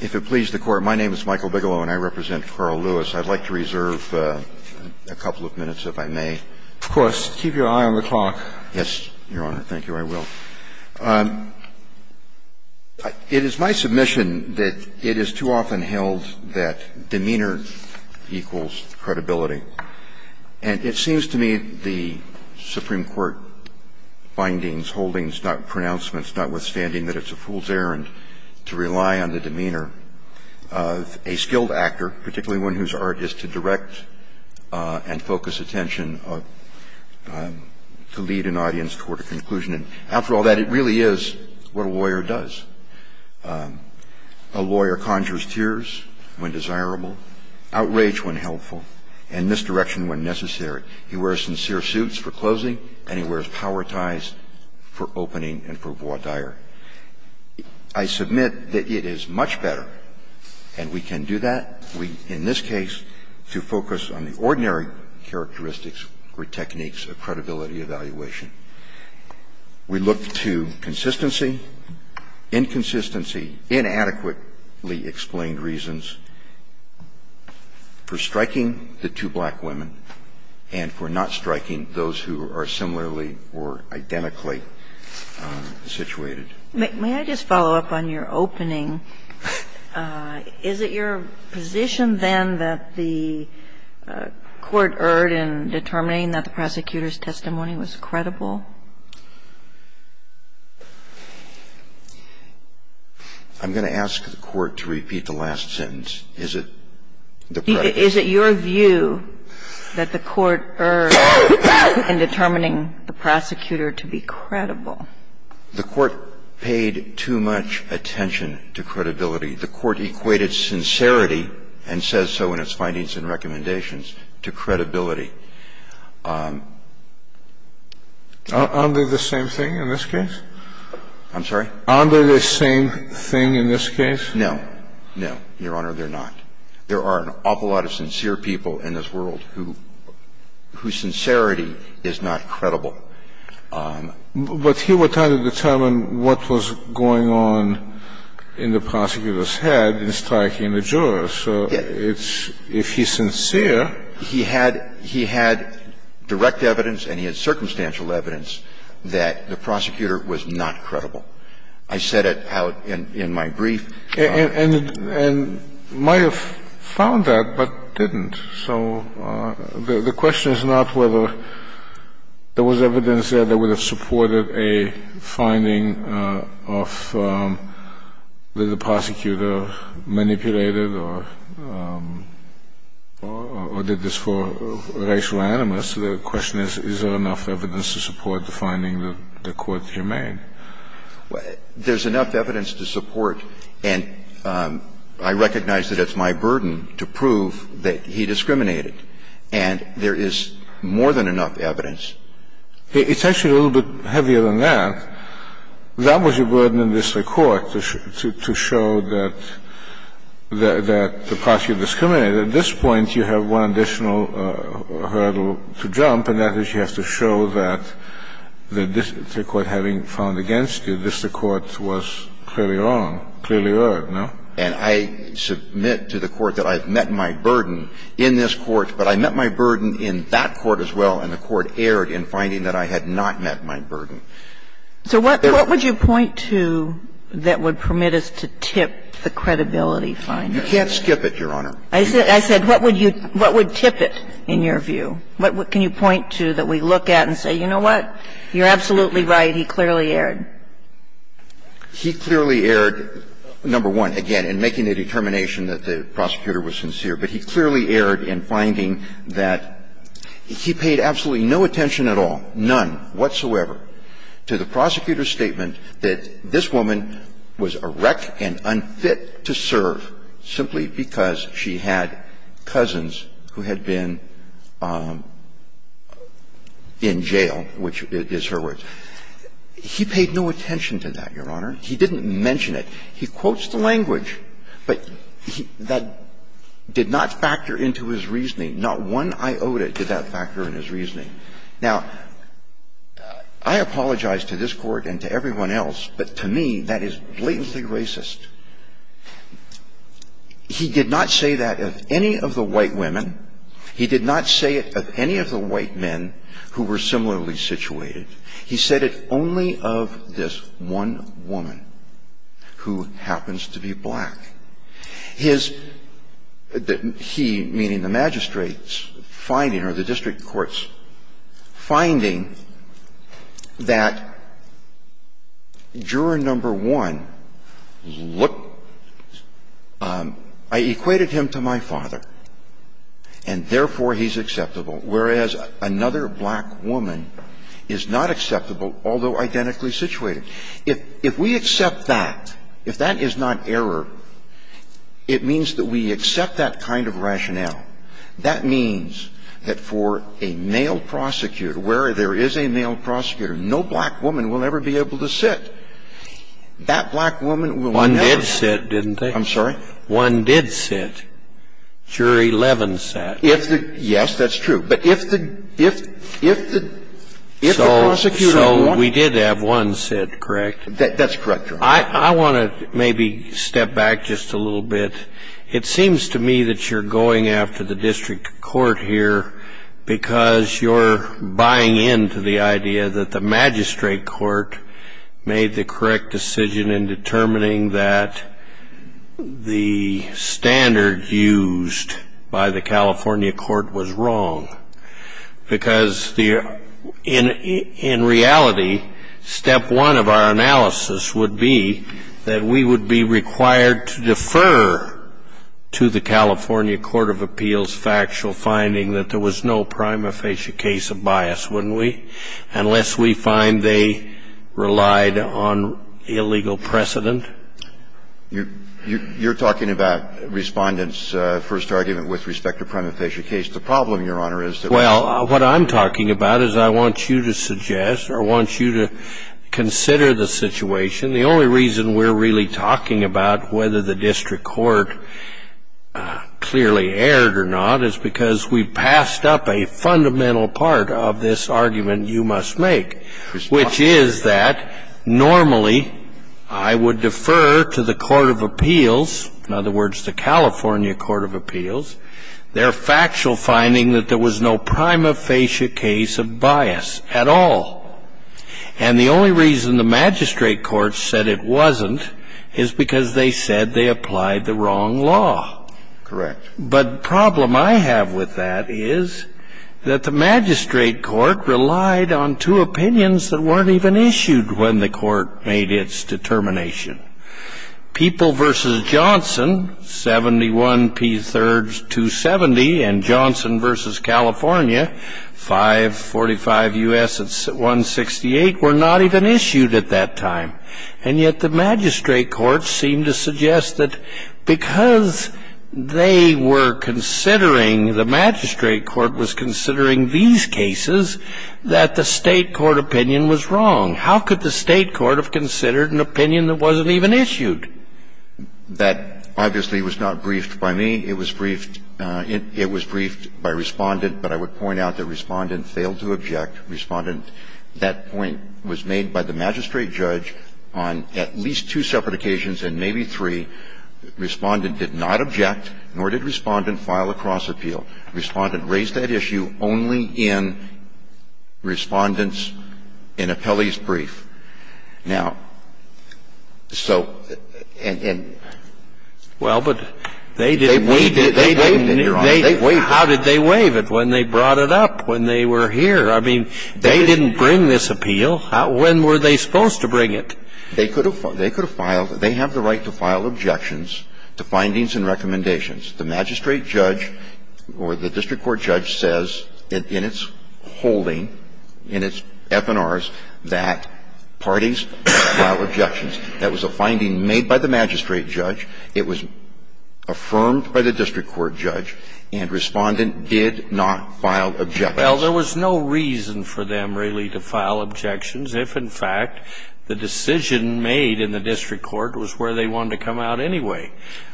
If it pleases the Court, my name is Michael Bigelow, and I represent Carl Lewis. I'd like to reserve a couple of minutes, if I may. Of course. Keep your eye on the clock. Yes, Your Honor. Thank you. I will. It is my submission that it is too often held that demeanor equals credibility. And it seems to me the Supreme Court findings, holdings, pronouncements, notwithstanding that it's a fool's errand to rely on the demeanor of a skilled actor, particularly one whose art is to direct and focus attention to lead an audience toward a conclusion. And after all that, it really is what a lawyer does. A lawyer conjures tears when desirable, outrage when helpful, and misdirection when necessary. He wears sincere suits for closing, and he wears power ties for opening and for voir dire. I submit that it is much better, and we can do that, in this case, to focus on the ordinary characteristics or techniques of credibility evaluation. We look to consistency, inconsistency, inadequately explained reasons for striking the two black women and for not striking those who are similarly or identically situated. May I just follow up on your opening? Is it your position, then, that the Court erred in determining that the prosecutor's testimony was credible? I'm going to ask the Court to repeat the last sentence. Is it the predicate? Is it your view that the Court erred in determining the prosecutor to be credible? The Court paid too much attention to credibility. The Court equated sincerity, and says so in its findings and recommendations, to credibility. Aren't they the same thing in this case? I'm sorry? Aren't they the same thing in this case? No. No, Your Honor, they're not. There are an awful lot of sincere people in this world whose sincerity is not credible. But here we're trying to determine what was going on in the prosecutor's head in striking the jurors. So it's – if he's sincere, he had direct evidence and he had circumstantial evidence that the prosecutor was not credible. I said it out in my brief. And might have found that, but didn't. So the question is not whether there was evidence there that would have supported a finding of that the prosecutor manipulated or did this for racial animus. The question is, is there enough evidence to support the finding that the Court humane? There's enough evidence to support, and I recognize that it's my burden to prove that he discriminated, and there is more than enough evidence. It's actually a little bit heavier than that. That was a burden on the district court to show that the prosecutor discriminated. At this point, you have one additional hurdle to jump, and that is you have to show that the district court, having found against you, the district court was clearly wrong, clearly erred, no? And I submit to the Court that I have met my burden in this Court, but I met my burden in that Court as well, and the Court erred in finding that I had not met my burden. So what would you point to that would permit us to tip the credibility finding? You can't skip it, Your Honor. I said what would you – what would tip it in your view? What can you point to that we look at and say, you know what, you're absolutely right, he clearly erred. He clearly erred, number one, again, in making the determination that the prosecutor was sincere, but he clearly erred in finding that he paid absolutely no attention at all, none whatsoever, to the prosecutor's statement that this woman was a wreck and unfit to serve simply because she had cousins who had been, you know, in the jail, which is her words. He paid no attention to that, Your Honor. He didn't mention it. He quotes the language, but that did not factor into his reasoning. Not one iota did that factor in his reasoning. Now, I apologize to this Court and to everyone else, but to me, that is blatantly racist. He did not say that of any of the white women. He did not say it of any of the white men who were similarly situated. He said it only of this one woman who happens to be black. His – he, meaning the magistrates, finding, or the district courts, finding that juror number one looked – I equated him to my father. And therefore, he's acceptable, whereas another black woman is not acceptable, although identically situated. If we accept that, if that is not error, it means that we accept that kind of rationale. That means that for a male prosecutor, where there is a male prosecutor, no black woman will ever be able to sit. That black woman will never – One did sit, didn't they? I'm sorry? One did sit. Jury 11 sat. If the – yes, that's true. But if the – if the prosecutor – So we did have one sit, correct? That's correct, Your Honor. I want to maybe step back just a little bit. It seems to me that you're going after the district court here because you're buying into the idea that the magistrate court made the correct decision in determining that the standard used by the California court was wrong because the – in reality, step one of our analysis would be that we would be required to defer to the California Court of Appeals factual finding that there was no prima facie case of bias, wouldn't we, unless we find they relied on illegal precedent? You're talking about Respondent's first argument with respect to a prima facie case. The problem, Your Honor, is that – Well, what I'm talking about is I want you to suggest or I want you to consider the situation. The only reason we're really talking about whether the district court clearly erred or not is because we passed up a fundamental part of this argument you must make, which is that normally I would defer to the Court of Appeals, in other words, the California Court of Appeals, their factual finding that there was no prima facie case of bias at all. And the only reason the magistrate court said it wasn't is because they said they applied the wrong law. Correct. But the problem I have with that is that the magistrate court relied on two opinions that weren't even issued when the court made its determination. People v. Johnson, 71 P. 3rds. 270, and Johnson v. California, 545 U.S. 168, were not even issued at that time. And yet the magistrate court seemed to suggest that because they were considering – the magistrate court was considering these cases – that the state court opinion was wrong. How could the state court have considered an opinion that wasn't even issued? That obviously was not briefed by me. It was briefed – it was briefed by Respondent, but I would point out that Respondent failed to object. Respondent, that point was made by the magistrate judge on at least two separate occasions and maybe three. Respondent did not object, nor did Respondent file a cross-appeal. Respondent raised that issue only in Respondent's – in Appellee's brief. Now, so – and – and they waived it, Your Honor. They waived it. How did they waive it? When they brought it up, when they were here. I mean, they didn't bring this appeal. When were they supposed to bring it? They could have filed – they have the right to file objections to findings and recommendations. The magistrate judge or the district court judge says in its holding, in its FNRs, that parties file objections. That was a finding made by the magistrate judge. It was affirmed by the district court judge, and Respondent did not file objections. Well, there was no reason for them really to file objections if, in fact, the decision made in the district court was where they wanted to come out anyway.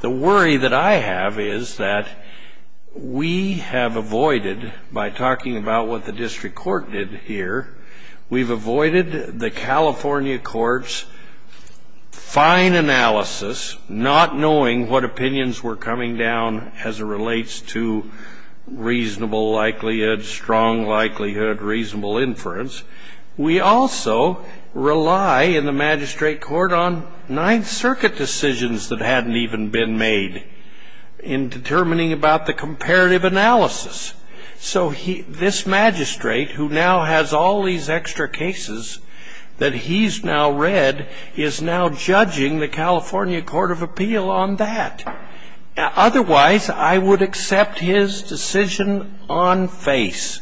The worry that I have is that we have avoided, by talking about what the district court did here, we've avoided the California court's fine analysis, not knowing what likelihood reasonable inference. We also rely in the magistrate court on Ninth Circuit decisions that hadn't even been made in determining about the comparative analysis. So this magistrate, who now has all these extra cases that he's now read, is now judging the California Court of Appeal on that. Now, otherwise, I would accept his decision on face.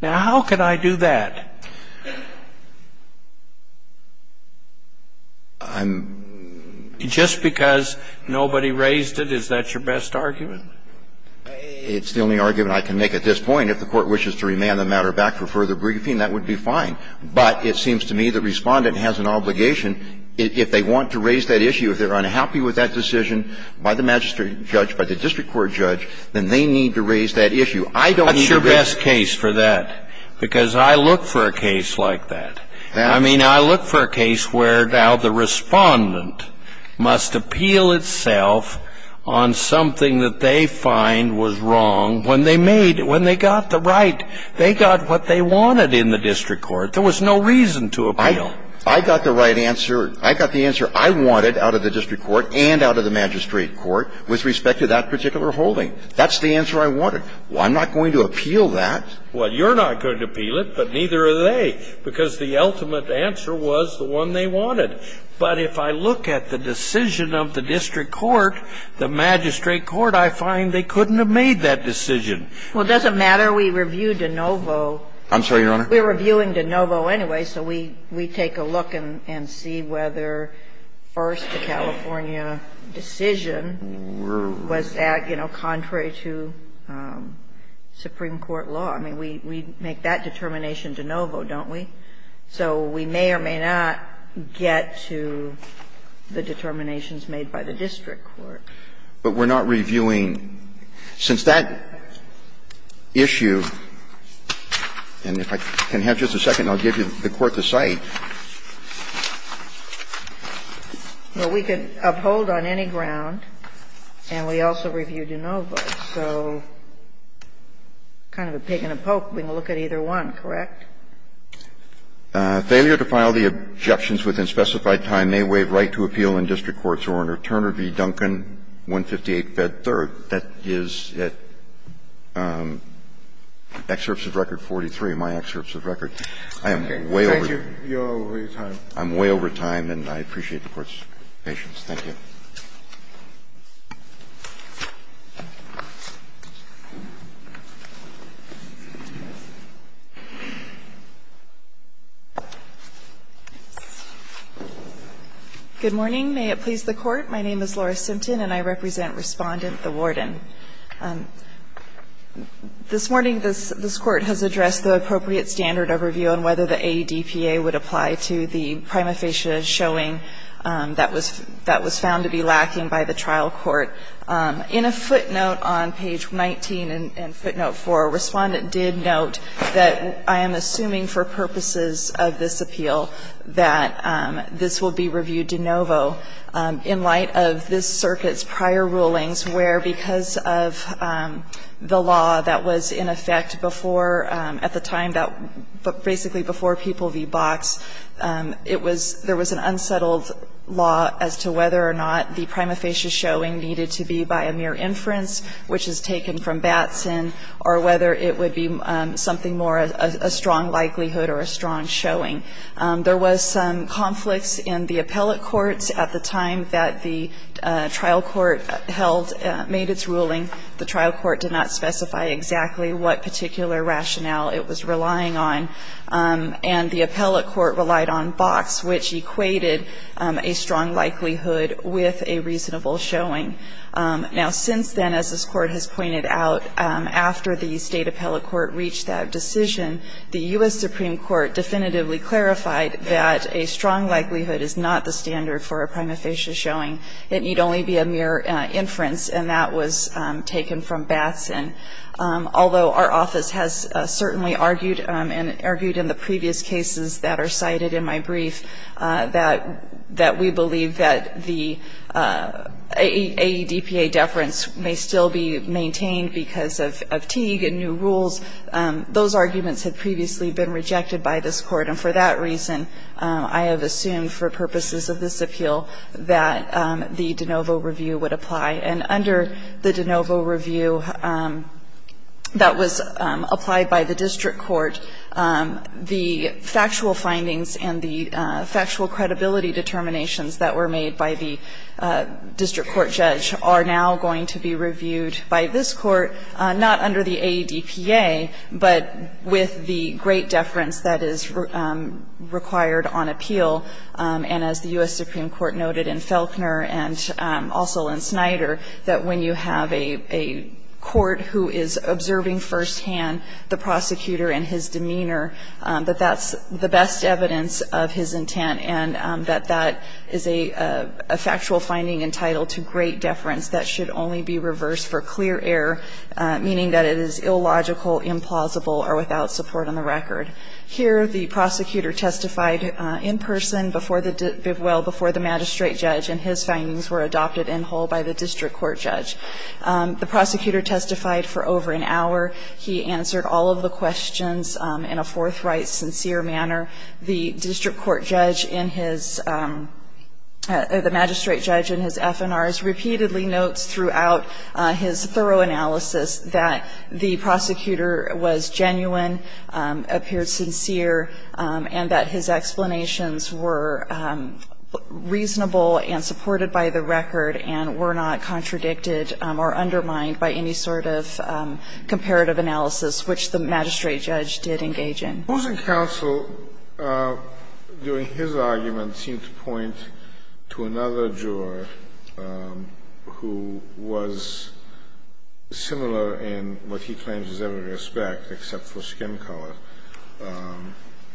Now, how could I do that? I'm just because nobody raised it, is that your best argument? It's the only argument I can make at this point. If the Court wishes to remand the matter back for further briefing, that would be fine. But it seems to me the Respondent has an obligation, if they want to raise that issue, if they're unhappy with that decision by the magistrate judge, by the district court judge, then they need to raise that issue. I don't need to raise it. That's your best case for that, because I look for a case like that. I mean, I look for a case where now the Respondent must appeal itself on something that they find was wrong when they made it, when they got the right. They got what they wanted in the district court. There was no reason to appeal. I got the right answer. I got the answer I wanted out of the district court and out of the magistrate court with respect to that particular holding. That's the answer I wanted. I'm not going to appeal that. Well, you're not going to appeal it, but neither are they, because the ultimate answer was the one they wanted. But if I look at the decision of the district court, the magistrate court, I find they couldn't have made that decision. We reviewed de novo. I'm sorry, Your Honor? We're reviewing de novo anyway, so we take a look and see whether, first, the California decision was that, you know, contrary to Supreme Court law. I mean, we make that determination de novo, don't we? So we may or may not get to the determinations made by the district court. But we're not reviewing – since that issue – and if I could just go back to the district court, I can have just a second and I'll give you the court to cite. Well, we could uphold on any ground, and we also reviewed de novo, so kind of a pig in a poke. We can look at either one, correct? Failure to file the objections within specified time may waive right to appeal in district court's order. Turner v. Duncan, 158, Fed. 3rd, that is at excerpts of Record 43, my excerpts of Record. I am way over time. I'm way over time, and I appreciate the Court's patience. Thank you. Good morning. May it please the Court. My name is Laura Simpton, and I represent Respondent, the Warden. This morning, this Court has addressed the appropriate standard of review on whether the ADPA would apply to the prima facie showing that was found to be lacking by the trial court. In a footnote on page 19 and footnote 4, Respondent did note that I am assuming for purposes of this appeal that this will be reviewed de novo in light of this of the law that was in effect before, at the time that, basically before People v. Box, it was, there was an unsettled law as to whether or not the prima facie showing needed to be by a mere inference, which is taken from Batson, or whether it would be something more, a strong likelihood or a strong showing. There was some conflicts in the appellate courts at the time that the trial court held, made its ruling. The trial court did not specify exactly what particular rationale it was relying on, and the appellate court relied on Box, which equated a strong likelihood with a reasonable showing. Now, since then, as this Court has pointed out, after the State appellate court reached that decision, the U.S. Supreme Court definitively clarified that a strong likelihood is not the standard for a prima facie showing. It need only be a mere inference, and that was taken from Batson. Although our office has certainly argued and argued in the previous cases that are cited in my brief that we believe that the AEDPA deference may still be maintained because of Teague and new rules, those arguments had previously been rejected by this Court, and for that reason, I have assumed for purposes of this appeal that the de novo review would apply. And under the de novo review that was applied by the district court, the factual findings and the factual credibility determinations that were made by the district court judge are now going to be reviewed by this Court, not under the AEDPA, but with the great deference that is required on appeal. And as the U.S. Supreme Court noted in Felchner and also in Snyder, that when you have a court who is observing firsthand the prosecutor and his demeanor, that that's the best evidence of his intent, and that that is a factual finding entitled to be reviewed with great deference, that should only be reversed for clear error, meaning that it is illogical, implausible, or without support on the record. Here, the prosecutor testified in person before the magistrate judge, and his findings were adopted in whole by the district court judge. The prosecutor testified for over an hour. He answered all of the questions in a forthright, sincere manner. The district court judge in his – the magistrate judge in his FNRs repeatedly notes throughout his thorough analysis that the prosecutor was genuine, appeared sincere, and that his explanations were reasonable and supported by the record and were not contradicted or undermined by any sort of comparative analysis, which the magistrate judge did engage in. Sotomayor, during his argument, seemed to point to another juror who was similar in what he claims is every respect, except for skin color.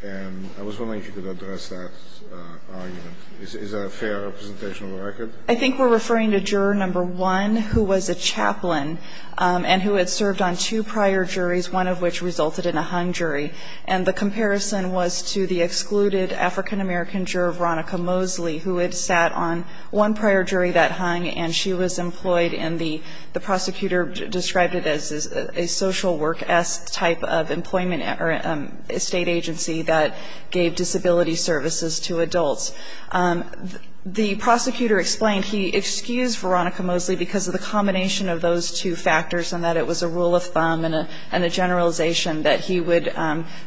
And I was wondering if you could address that argument. Is that a fair representation of the record? I think we're referring to juror number one, who was a chaplain and who had served on two prior juries, one of which resulted in a hung jury. And the comparison was to the excluded African-American juror, Veronica Mosley, who had sat on one prior jury that hung, and she was employed in the – the prosecutor described it as a social work-esque type of employment or state agency that gave disability services to adults. The prosecutor explained he excused Veronica Mosley because of the combination of those two factors and that it was a rule of thumb and a generalization that he would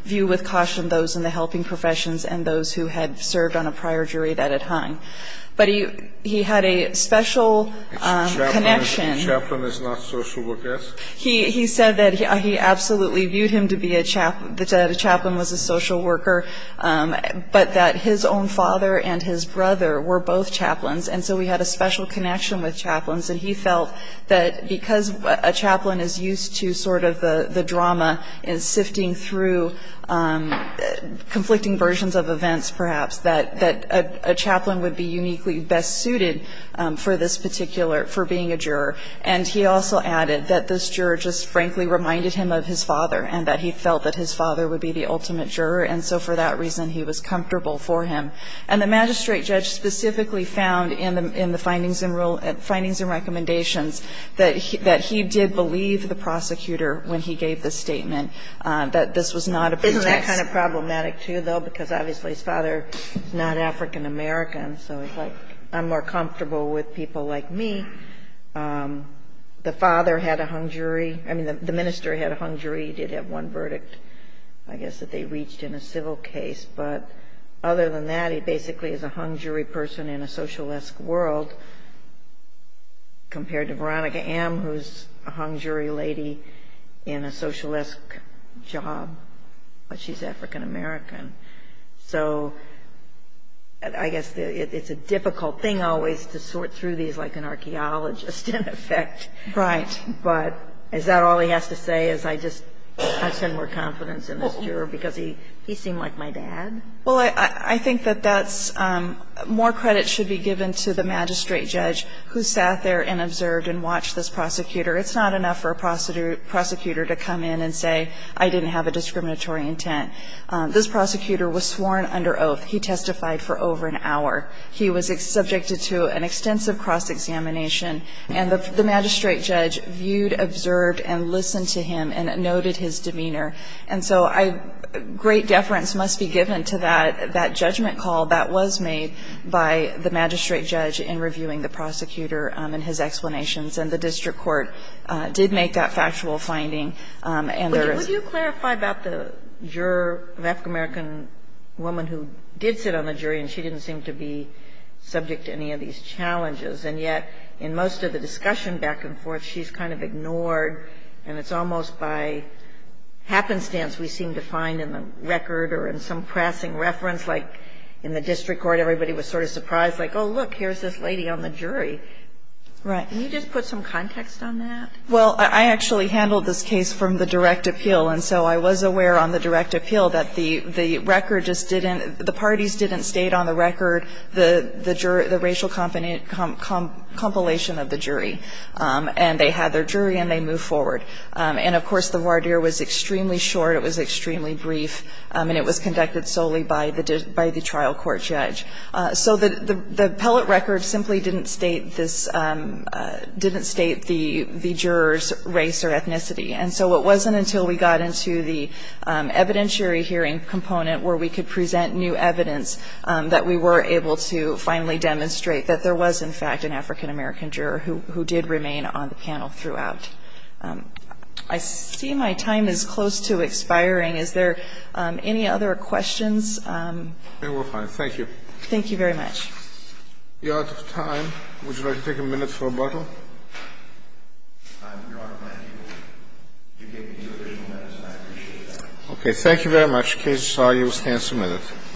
view with caution those in the helping professions and those who had served on a prior jury that had hung. But he had a special connection. Chaplain is not social work-esque? He said that he absolutely viewed him to be a chaplain, that a chaplain was a social worker, but that his own father and his brother were both chaplains. And so we had a special connection with chaplains, and he felt that because a chaplain is used to sort of the drama and sifting through conflicting versions of events, perhaps, that a chaplain would be uniquely best suited for this particular – for being a juror. And he also added that this juror just frankly reminded him of his father and that he felt that his father would be the ultimate juror, and so for that reason he was comfortable for him. And the magistrate judge specifically found in the findings and rule – findings and recommendations that he did believe the prosecutor when he gave the statement that this was not a pretext. Isn't that kind of problematic, too, though, because obviously his father is not African American, so it's like I'm more comfortable with people like me. The father had a hung jury – I mean, the minister had a hung jury, did have one verdict, I guess, that they reached in a civil case. But other than that, he basically is a hung jury person in a socialistic world compared to Veronica M., who's a hung jury lady in a socialistic job, but she's African American. So I guess it's a difficult thing always to sort through these like an archaeologist in effect. Right. But is that all he has to say as I just – I've shown more confidence in this juror because he seemed like my dad? Well, I think that that's – more credit should be given to the magistrate judge who sat there and observed and watched this prosecutor. It's not enough for a prosecutor to come in and say, I didn't have a discriminatory intent. This prosecutor was sworn under oath. He testified for over an hour. He was subjected to an extensive cross-examination. And the magistrate judge viewed, observed, and listened to him and noted his demeanor. And so I – great deference must be given to that judgment call that was made by the magistrate judge in reviewing the prosecutor and his explanations. And the district court did make that factual finding. And there is – Would you clarify about the juror, an African American woman who did sit on the jury and she didn't seem to be subject to any of these challenges. And yet, in most of the discussion back and forth, she's kind of ignored, and it's almost by happenstance we seem to find in the record or in some pressing reference like in the district court everybody was sort of surprised, like, oh, look, here's this lady on the jury. Right. Can you just put some context on that? Well, I actually handled this case from the direct appeal. And so I was aware on the direct appeal that the record just didn't – the parties didn't state on the record the racial compilation of the jury. And they had their jury, and they moved forward. And, of course, the voir dire was extremely short. It was extremely brief, and it was conducted solely by the trial court judge. So the appellate record simply didn't state this – didn't state the juror's race or ethnicity. And so it wasn't until we got into the evidentiary hearing component where we could present new evidence that we were able to finally demonstrate that there was, in fact, an African-American juror who did remain on the panel throughout. I see my time is close to expiring. Is there any other questions? We're fine. Thank you. Thank you very much. You're out of time. Would you like to take a minute for rebuttal? Your Honor, thank you. You gave me two additional minutes, and I appreciate that. Okay. Thank you very much. The case is now in stand-submitted.